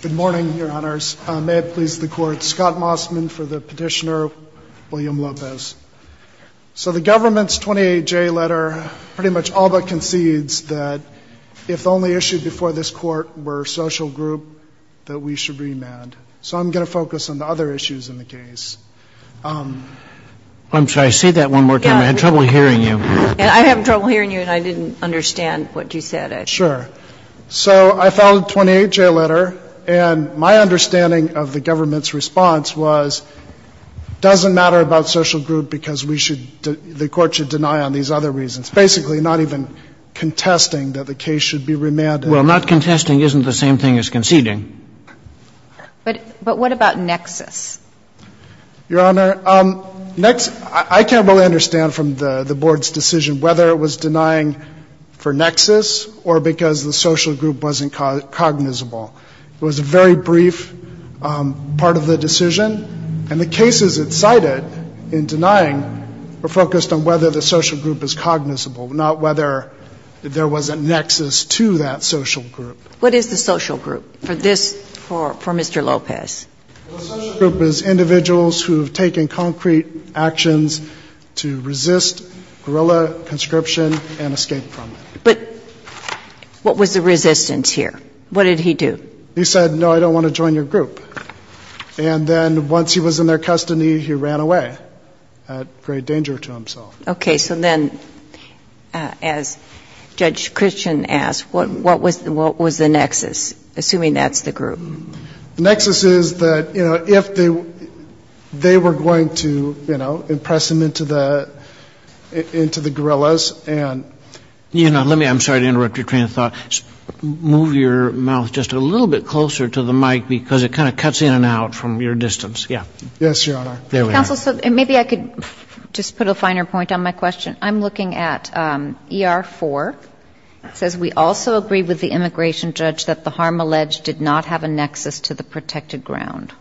Good morning, Your Honors. May it please the Court, Scott Mossman for the Petitioner, William Lopez. So the government's 28J letter pretty much all but concedes that if the only issue before this Court were social group, that we should remand. So I'm going to focus on the other issues in the case. I'm sorry, say that one more time. I had trouble hearing you. I have trouble hearing you and I didn't understand what you said. Sure. So I filed a 28J letter and my understanding of the government's response was doesn't matter about social group because we should, the Court should deny on these other reasons. Basically not even contesting that the case should be remanded. Well, not contesting isn't the same thing as conceding. But what about nexus? Your Honor, I can't really understand from the Board's decision whether it was denying for nexus or because the social group wasn't cognizable. It was a very brief part of the decision and the cases it cited in denying were focused on whether the social group is cognizable, not whether there was a nexus to that social group. What is the social group for this, for Mr. Lopez? The social group is individuals who have taken concrete actions to resist guerrilla conscription and escape from it. But what was the resistance here? What did he do? He said, no, I don't want to join your group. And then once he was in their custody, he ran away at great danger to himself. Okay. So then as Judge Christian asked, what was the nexus, assuming that's the group? The nexus is that, you know, if they were going to, you know, impress him into the guerrillas and Let me, I'm sorry to interrupt your train of thought. Move your mouth just a little bit closer to the mic because it kind of cuts in and out from your distance. Yes, Your Honor. Counsel, maybe I could just put a finer point on my question. I'm looking at ER-4. It says we also agree with the immigration judge that the harm alleged did not have a nexus to the protected ground.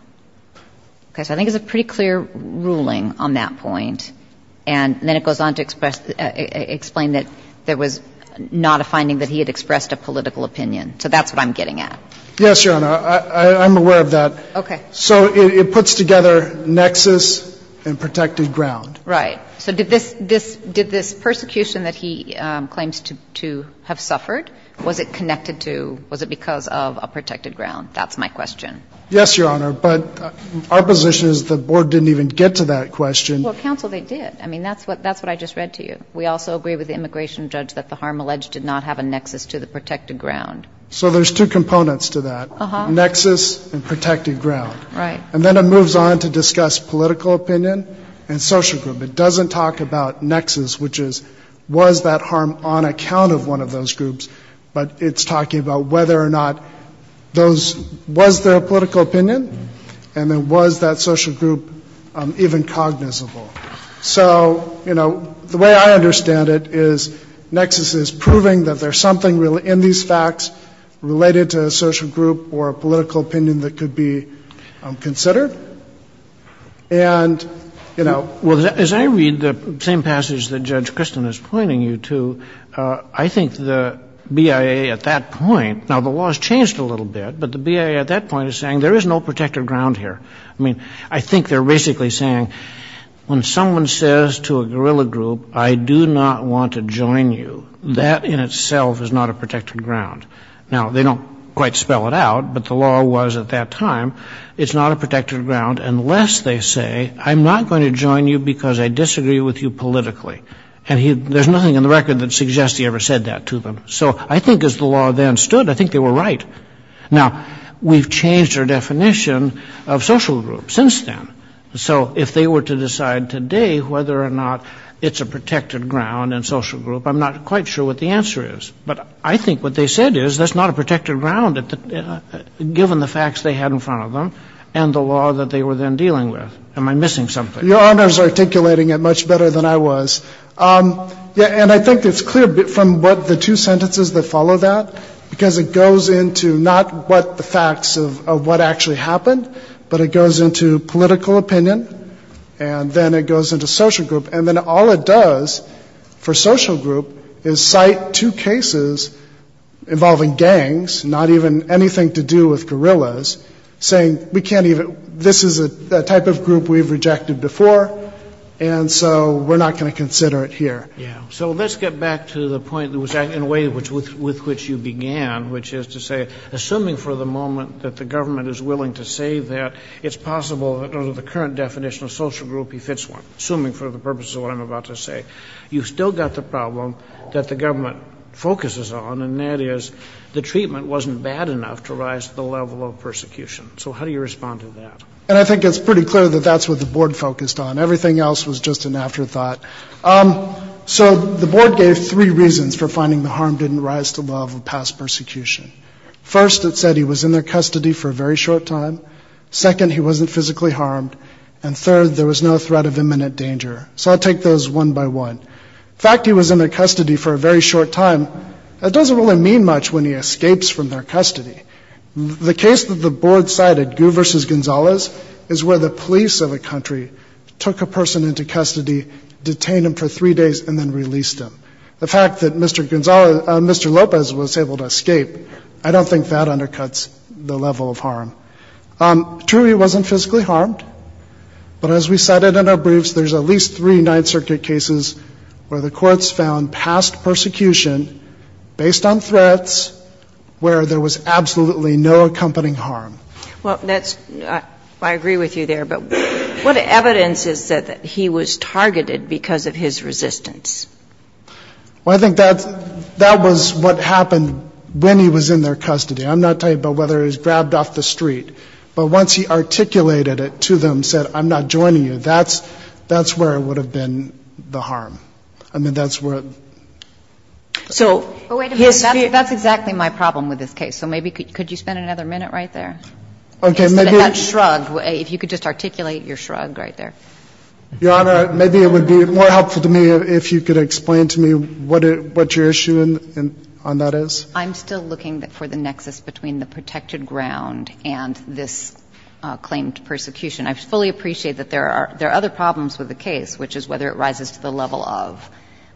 Okay. So I think it's a pretty clear ruling on that point. And then it goes on to express the, explain that there was not a finding that he had expressed a political opinion. So that's what I'm getting at. Yes, Your Honor. I'm aware of that. Okay. So it puts together nexus and protected ground. Right. So did this, this, did this persecution that he claims to, to have suffered, was it connected to, was it because of a protected ground? That's my question. Yes, Your Honor. But our position is the board didn't even get to that question. Well, counsel, they did. I mean, that's what, that's what I just read to you. We also agree with the immigration judge that the harm alleged did not have a nexus to the protected ground. So there's two components to that. Uh-huh. Nexus and protected ground. Right. And then it moves on to discuss political opinion and social group. It doesn't talk about nexus, which is, was that harm on account of one of those groups, but it's talking about whether or not those, was there a political opinion and then was that social group even cognizable? So, you know, the way I understand it is nexus is proving that there's something really in these facts related to a social group or a political opinion that could be considered. And, you know. Well, as I read the same passage that Judge Christin is pointing you to, I think the BIA at that point, now the law has changed a little bit, but the BIA at that point is saying there is no protected ground here. I mean, I think they're basically saying when someone says to a guerrilla group, I do not want to join you, that in itself is not a protected ground. Now, they don't quite spell it out, but the law was at that time, it's not a protected ground unless they say, I'm not going to join you because I disagree with you politically. And there's nothing in the record that suggests he ever said that to them. So I think as the law then stood, I think they were right. Now, we've changed our definition of social groups since then. So if they were to decide today whether or not it's a protected ground and social group, I'm not quite sure what the answer is. But I think what they said is that's not a protected ground, given the facts they had in front of them and the law that they were then dealing with. Am I missing something? Your Honor's articulating it much better than I was. Yeah, and I think it's clear from what the two sentences that follow that, because it goes into not what the facts of what actually happened, but it goes into political opinion and then it goes into social group. And then all it does for social group is cite two cases involving gangs, not even anything to do with guerrillas, saying we can't even, this is a type of group we've rejected before, and so we're not going to consider it here. Yeah. So let's get back to the point that was in a way with which you began, which is to say, assuming for the moment that the government is willing to say that it's possible that under the current definition of social group, he fits one, assuming for the purposes of what I'm about to say, you've still got the problem that the level of persecution. So how do you respond to that? And I think it's pretty clear that that's what the board focused on. Everything else was just an afterthought. So the board gave three reasons for finding the harm didn't rise to the level of past persecution. First, it said he was in their custody for a very short time. Second, he wasn't physically harmed. And third, there was no threat of imminent danger. So I'll take those one by one. The fact he was in their custody for a very short time, that doesn't really mean much when he escapes from their custody. The case that the board cited, Gu versus Gonzalez, is where the police of a country took a person into custody, detained him for three days and then released him. The fact that Mr. Lopez was able to escape, I don't think that undercuts the level of harm. True, he wasn't physically harmed. But as we cited in our briefs, there's at least three Ninth Circuit cases where the was absolutely no accompanying harm. Well, that's, I agree with you there. But what evidence is that he was targeted because of his resistance? Well, I think that's, that was what happened when he was in their custody. I'm not talking about whether he was grabbed off the street. But once he articulated it to them, said, I'm not joining you, that's, that's where it would have been the harm. I mean, that's where. So, wait a minute, that's exactly my problem with this case. So maybe, could you spend another minute right there? Okay, maybe. Instead of that shrug, if you could just articulate your shrug right there. Your Honor, maybe it would be more helpful to me if you could explain to me what your issue on that is. I'm still looking for the nexus between the protected ground and this claim to persecution. I fully appreciate that there are other problems with the case, which is whether it rises to the level of.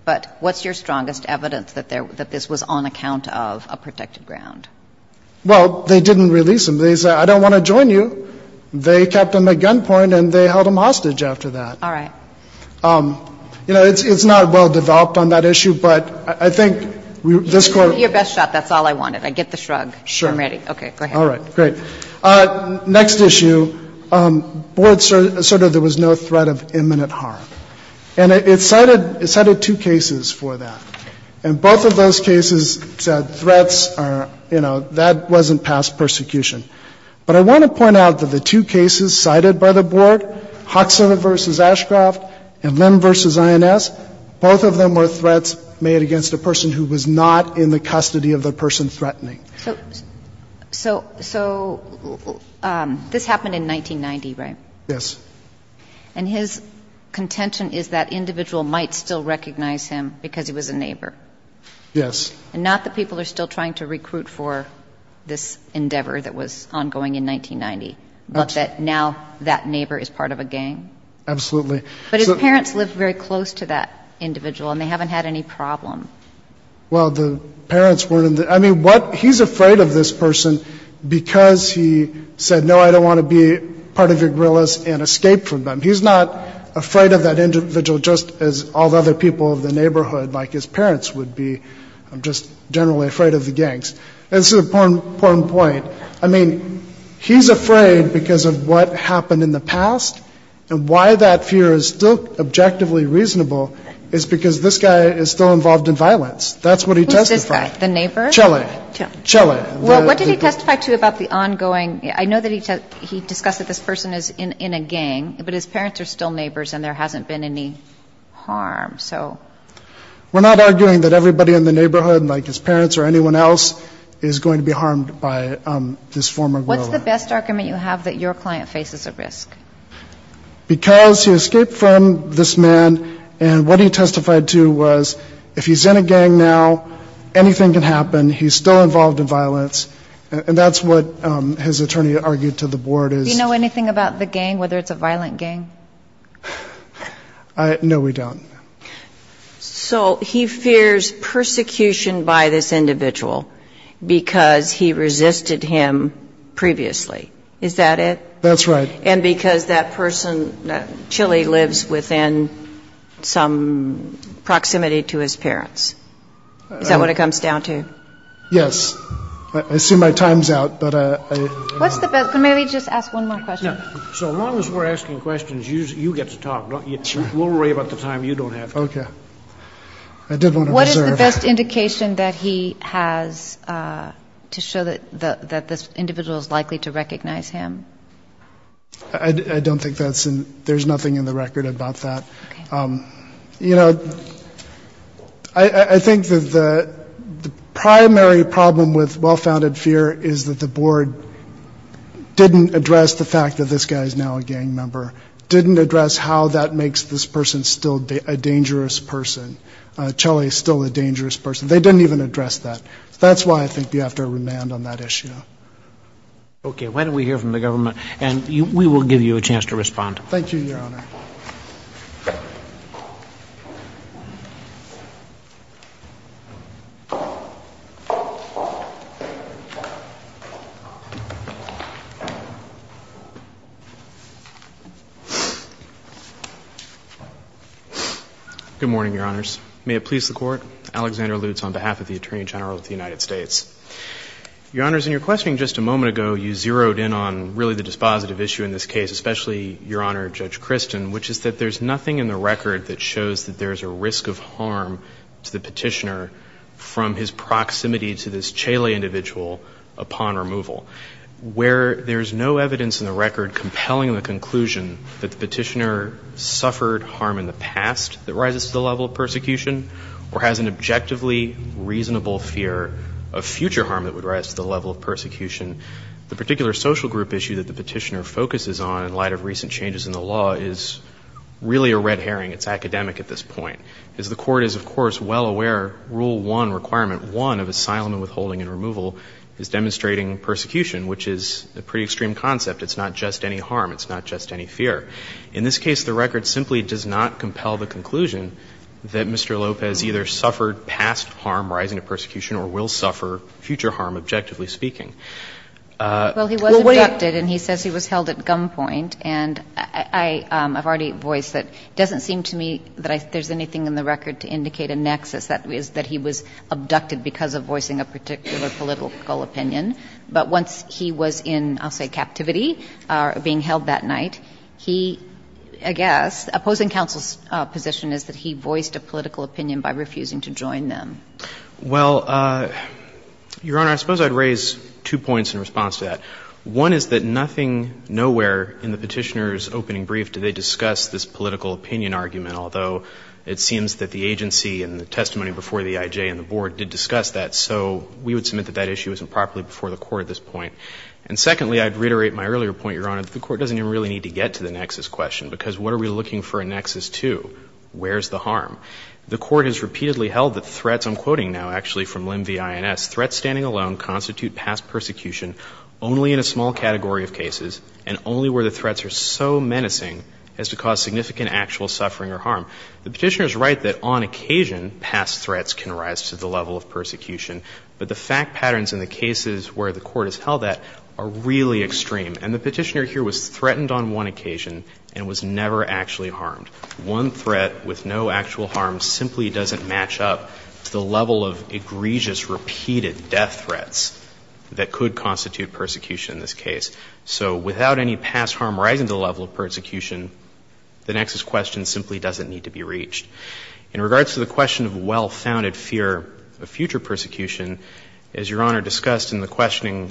But what's your strongest evidence that this was on account of a protected ground? Well, they didn't release him. They said, I don't want to join you. They kept him at gunpoint and they held him hostage after that. All right. You know, it's not well developed on that issue, but I think this court. Your best shot, that's all I wanted. I get the shrug. Sure. I'm ready. Okay, go ahead. All right, great. Next issue, board asserted there was no threat of imminent harm. And it cited two cases for that. And both of those cases said threats are, you know, that wasn't past persecution. But I want to point out that the two cases cited by the board, Hoxha versus Ashcroft and Lim versus INS, both of them were threats made against a person who was not in the custody of the person threatening. So this happened in 1990, right? Yes. And his contention is that individual might still recognize him because he was a neighbor. Yes. And not that people are still trying to recruit for this endeavor that was ongoing in 1990, but that now that neighbor is part of a gang. Absolutely. But his parents lived very close to that individual and they haven't had any problem. Well, the parents weren't in the, I mean, what, he's afraid of this person because he said, no, I don't want to be part of your guerrillas and escape from them. He's not afraid of that individual just as all the other people of the neighborhood like his parents would be, just generally afraid of the gangs. And this is an important point. I mean, he's afraid because of what happened in the past and why that fear is still objectively reasonable is because this guy is still involved in violence. That's what he testified. Who's this guy? The neighbor? Chile. Chile. Well, what did he testify to about the ongoing? I know that he discussed that this person is in a gang, but his parents are still neighbors and there hasn't been any harm. So. We're not arguing that everybody in the neighborhood, like his parents or anyone else, is going to be harmed by this former guerrilla. What's the best argument you have that your client faces a risk? Because he escaped from this man and what he testified to was if he's in a gang now, anything can happen. He's still involved in violence. And that's what his attorney argued to the board is. Do you know anything about the gang, whether it's a violent gang? No, we don't. So he fears persecution by this individual because he resisted him previously. Is that it? That's right. And because that person, Chile, lives within some proximity to his parents. Is that what it comes down to? Yes. I assume my time's out, but I. What's the best? Can maybe just ask one more question? So long as we're asking questions, you get to talk. We'll worry about the time you don't have. Okay. I did want to reserve. What is the best indication that he has to show that this individual is likely to recognize him? I don't think there's nothing in the record about that. You know, I think that the primary problem with well-founded fear is that the board didn't address the fact that this guy is now a gang member, didn't address how that makes this person still a dangerous person. Chile is still a dangerous person. They didn't even address that. That's why I think you have to remand on that issue. Okay. Why don't we hear from the government? And we will give you a chance to respond. Thank you, Your Honor. Good morning, Your Honors. May it please the Court. Alexander Lutz on behalf of the Attorney General of the United States. Your Honors, in your questioning just a moment ago, you zeroed in on really the dispositive issue in this case, especially, Your Honor, Judge Christin, which is that there's nothing in the record that shows that there's a risk of harm to the petitioner from his proximity to this Chile individual upon removal, where there's no evidence in the record compelling the conclusion that the petitioner suffered harm in the past that rises to the level of persecution or has an objectively reasonable fear of future harm that would rise to the level of persecution. And the particular social group issue that the petitioner focuses on in light of recent changes in the law is really a red herring. It's academic at this point. As the Court is, of course, well aware, Rule 1, Requirement 1 of asylum and withholding and removal is demonstrating persecution, which is a pretty extreme concept. It's not just any harm. It's not just any fear. In this case, the record simply does not compel the conclusion that Mr. Lopez either suffered past harm rising to persecution or will suffer future harm, objectively speaking. Well, he was abducted, and he says he was held at gunpoint. And I've already voiced that it doesn't seem to me that there's anything in the record to indicate a nexus that is that he was abducted because of voicing a particular But once he was in, I'll say, captivity, being held that night, he, I guess, opposing counsel's position is that he voiced a political opinion by refusing to join them. Well, Your Honor, I suppose I'd raise two points in response to that. One is that nothing, nowhere in the Petitioner's opening brief did they discuss this political opinion argument, although it seems that the agency and the testimony before the IJ and the Board did discuss that. So we would submit that that issue was improperly before the Court at this point. And secondly, I'd reiterate my earlier point, Your Honor, that the Court doesn't even really need to get to the nexus question, because what are we looking for a nexus to? Where's the harm? The Court has repeatedly held that threats, I'm quoting now actually from Lim v. Ines, threats standing alone constitute past persecution only in a small category of cases, and only where the threats are so menacing as to cause significant actual suffering or harm. The Petitioner's right that on occasion, past threats can rise to the level of persecution. But the fact patterns in the cases where the Court has held that are really extreme. And the Petitioner here was threatened on one occasion and was never actually harmed. One threat with no actual harm simply doesn't match up to the level of egregious repeated death threats that could constitute persecution in this case. So without any past harm rising to the level of persecution, the nexus question simply doesn't need to be reached. In regards to the question of well-founded fear of future persecution, as Your Honor discussed in the questioning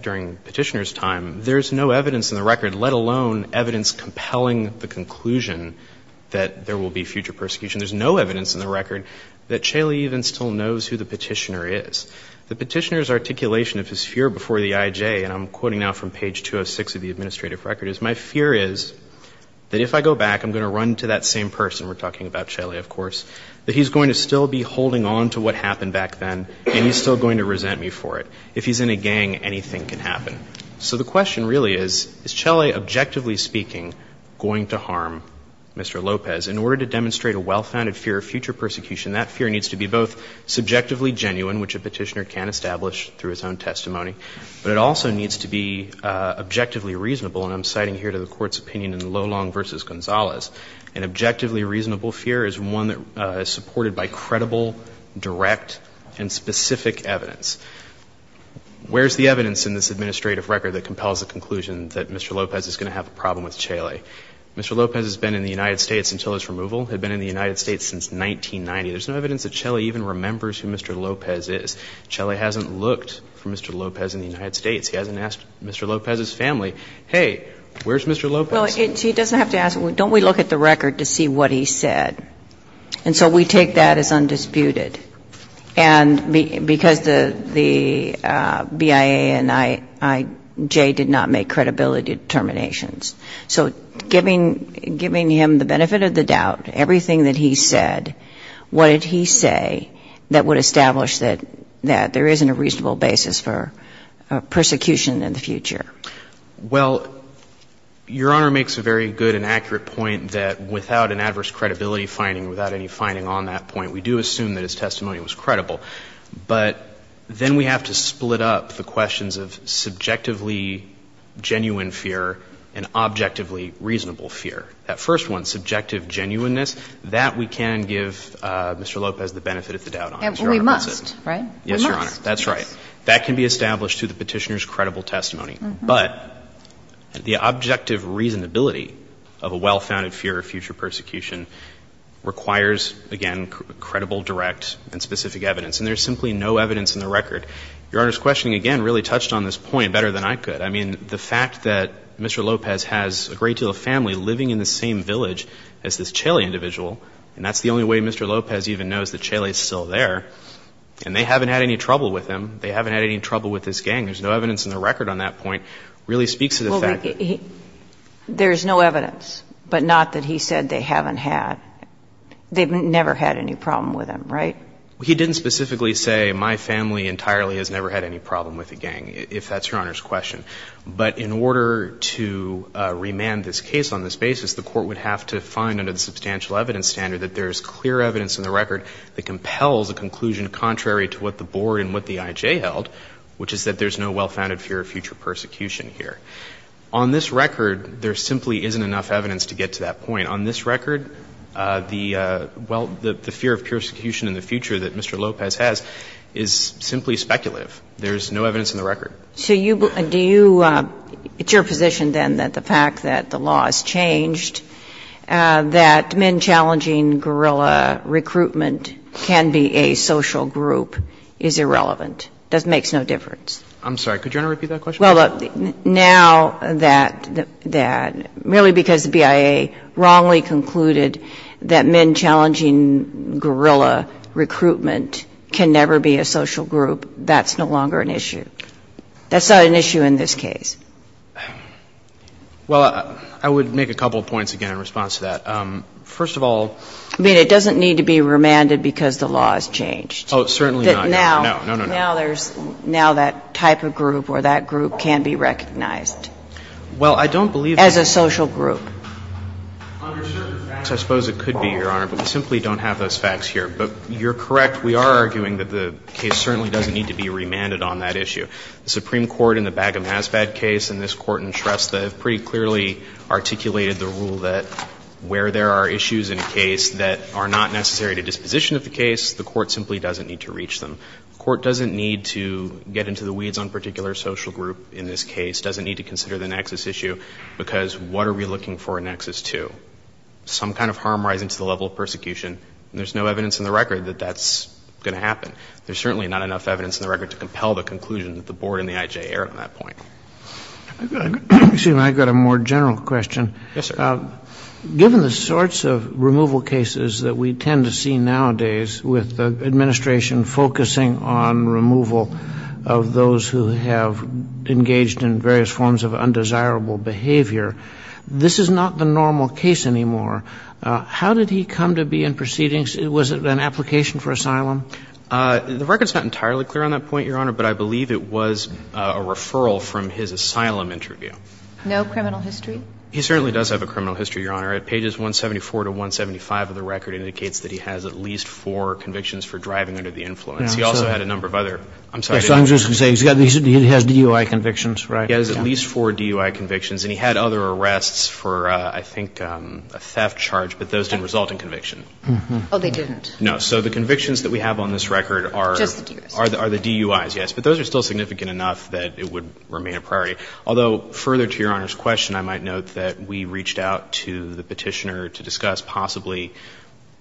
during Petitioner's time, there's no evidence in the record that Chelley even still knows who the Petitioner is. The Petitioner's articulation of his fear before the IJ, and I'm quoting now from page 206 of the administrative record, is, my fear is that if I go back, I'm going to run to that same person, we're talking about Chelley, of course, that he's going to still be holding on to what happened back then, and he's still going to resent me for it. If he's in a gang, anything can happen. So the question really is, is Chelley, objectively speaking, going to harm Mr. Lopez? In order to demonstrate a well-founded fear of future persecution, that fear needs to be both subjectively genuine, which a Petitioner can establish through his own testimony, but it also needs to be objectively reasonable, and I'm citing here to the Court's opinion in Lolong v. Gonzalez. An objectively reasonable fear is one that is supported by credible, direct, and specific evidence. Where's the evidence in this administrative record that compels the conclusion that Mr. Lopez is going to have a problem with Chelley? Mr. Lopez has been in the United States until his removal, had been in the United States since 1990. There's no evidence that Chelley even remembers who Mr. Lopez is. Chelley hasn't looked for Mr. Lopez in the United States. He hasn't asked Mr. Lopez's family, hey, where's Mr. Lopez? Well, he doesn't have to ask. Don't we look at the record to see what he said? And so we take that as undisputed. And because the BIA and IJ did not make credibility determinations. So giving him the benefit of the doubt, everything that he said, what did he say that would establish that there isn't a reasonable basis for persecution in the future? Well, Your Honor makes a very good and accurate point that without an adverse credibility finding, without any finding on that point, we do assume that his testimony was credible. But then we have to split up the questions of subjectively genuine fear and objectively reasonable fear. That first one, subjective genuineness, that we can give Mr. Lopez the benefit of the doubt on. And we must, right? Yes, Your Honor, that's right. That can be established through the petitioner's credible testimony. But the objective reasonability of a well-founded fear of future persecution requires, again, credible, direct, and specific evidence. And there's simply no evidence in the record. Your Honor's questioning, again, really touched on this point better than I could. I mean, the fact that Mr. Lopez has a great deal of family living in the same village as this Chaley individual, and that's the only way Mr. Lopez even knows that Chaley is still there, and they haven't had any trouble with him, they haven't had any trouble with this gang, there's no evidence in the record on that point, really speaks to the fact that he — Well, there's no evidence, but not that he said they haven't had. They've never had any problem with him, right? Well, he didn't specifically say, my family entirely has never had any problem with the gang, if that's Your Honor's question. But in order to remand this case on this basis, the Court would have to find under the substantial evidence standard that there's clear evidence in the record that compels a conclusion contrary to what the Board and what the IJ held, which is that there's no well-founded fear of future persecution here. On this record, there simply isn't enough evidence to get to that point. On this record, the — well, the fear of persecution in the future that Mr. Lopez has is simply speculative. There's no evidence in the record. So you — do you — it's your position, then, that the fact that the law has changed, that men challenging guerrilla recruitment can be a social group, is irrelevant? It makes no difference? I'm sorry. Could you repeat that question? Well, now that — merely because the BIA wrongly concluded that men challenging guerrilla recruitment can never be a social group, that's no longer an issue. That's not an issue in this case. Well, I would make a couple of points again in response to that. First of all — I mean, it doesn't need to be remanded because the law has changed. Oh, certainly not. No. No, no, no. Now there's — now that type of group or that group can be recognized. Well, I don't believe that — As a social group. Under certain facts, I suppose it could be, Your Honor, but we simply don't have those facts here. But you're correct. We are arguing that the case certainly doesn't need to be remanded on that issue. The Supreme Court in the Bagham-Haspad case and this Court in Shrestha have pretty clearly articulated the rule that where there are issues in a case that are not necessary to disposition of the case, the court simply doesn't need to reach them. The court doesn't need to get into the weeds on a particular social group in this case, doesn't need to consider the nexus issue, because what are we looking for a nexus to? Some kind of harm rising to the level of persecution. And there's no evidence in the record that that's going to happen. There's certainly not enough evidence in the record to compel the conclusion that the board and the IJA are on that point. Excuse me. I've got a more general question. Yes, sir. Given the sorts of removal cases that we tend to see nowadays with the administration focusing on removal of those who have engaged in various forms of undesirable behavior, this is not the normal case anymore. How did he come to be in proceedings? Was it an application for asylum? The record is not entirely clear on that point, Your Honor, but I believe it was a referral from his asylum interview. No criminal history? He certainly does have a criminal history, Your Honor. Pages 174 to 175 of the record indicates that he has at least four convictions for driving under the influence. He also had a number of other. I'm sorry. He has DUI convictions, right? He has at least four DUI convictions. And he had other arrests for, I think, a theft charge, but those didn't result in conviction. Oh, they didn't. No. So the convictions that we have on this record are the DUIs, yes, but those are still significant enough that it would remain a priority. Although, further to Your Honor's question, I might note that we reached out to the Petitioner to discuss possibly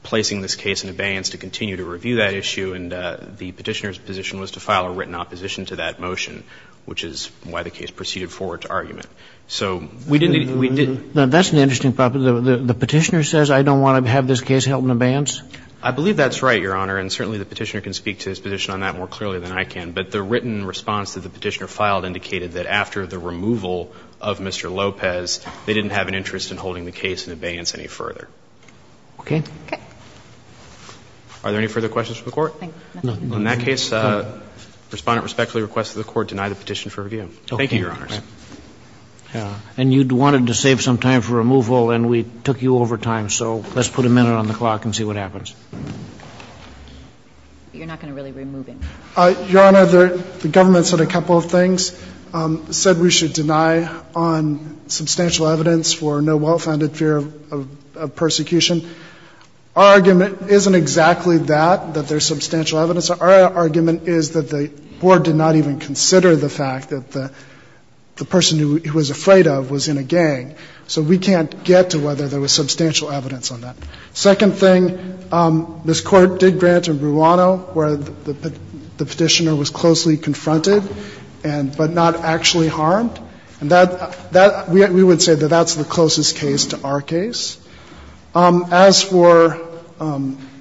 placing this case in abeyance to continue to review that issue, and the Petitioner's position was to file a written opposition to that motion, which is why the case proceeded forward to argument. So we didn't need to do that. That's an interesting problem. The Petitioner says I don't want to have this case held in abeyance? I believe that's right, Your Honor, and certainly the Petitioner can speak to his position on that more clearly than I can, but the written response that the Petitioner filed indicated that after the removal of Mr. Lopez, they didn't have an interest in holding the case in abeyance any further. Okay. Okay. Are there any further questions from the Court? No. In that case, Respondent respectfully requests that the Court deny the petition for review. Okay. Thank you, Your Honors. And you wanted to save some time for removal and we took you over time, so let's put a minute on the clock and see what happens. You're not going to really remove him? Your Honor, the government said a couple of things. It said we should deny on substantial evidence for no well-founded fear of persecution. Our argument isn't exactly that, that there's substantial evidence. Our argument is that the Board did not even consider the fact that the person who it was afraid of was in a gang. So we can't get to whether there was substantial evidence on that. Second thing, this Court did grant in Bruano where the Petitioner was closely confronted, but not actually harmed. And that, we would say that that's the closest case to our case. As for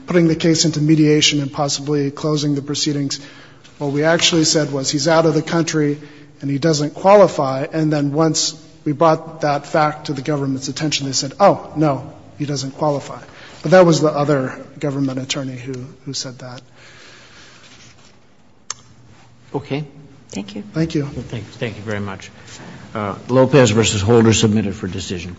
putting the case into mediation and possibly closing the proceedings, what we actually said was he's out of the country and he doesn't qualify. And then once we brought that fact to the government's attention, they said, oh, no, he doesn't qualify. But that was the other government attorney who said that. Okay. Thank you. Thank you. Thank you very much. Lopez v. Holder submitted for decision.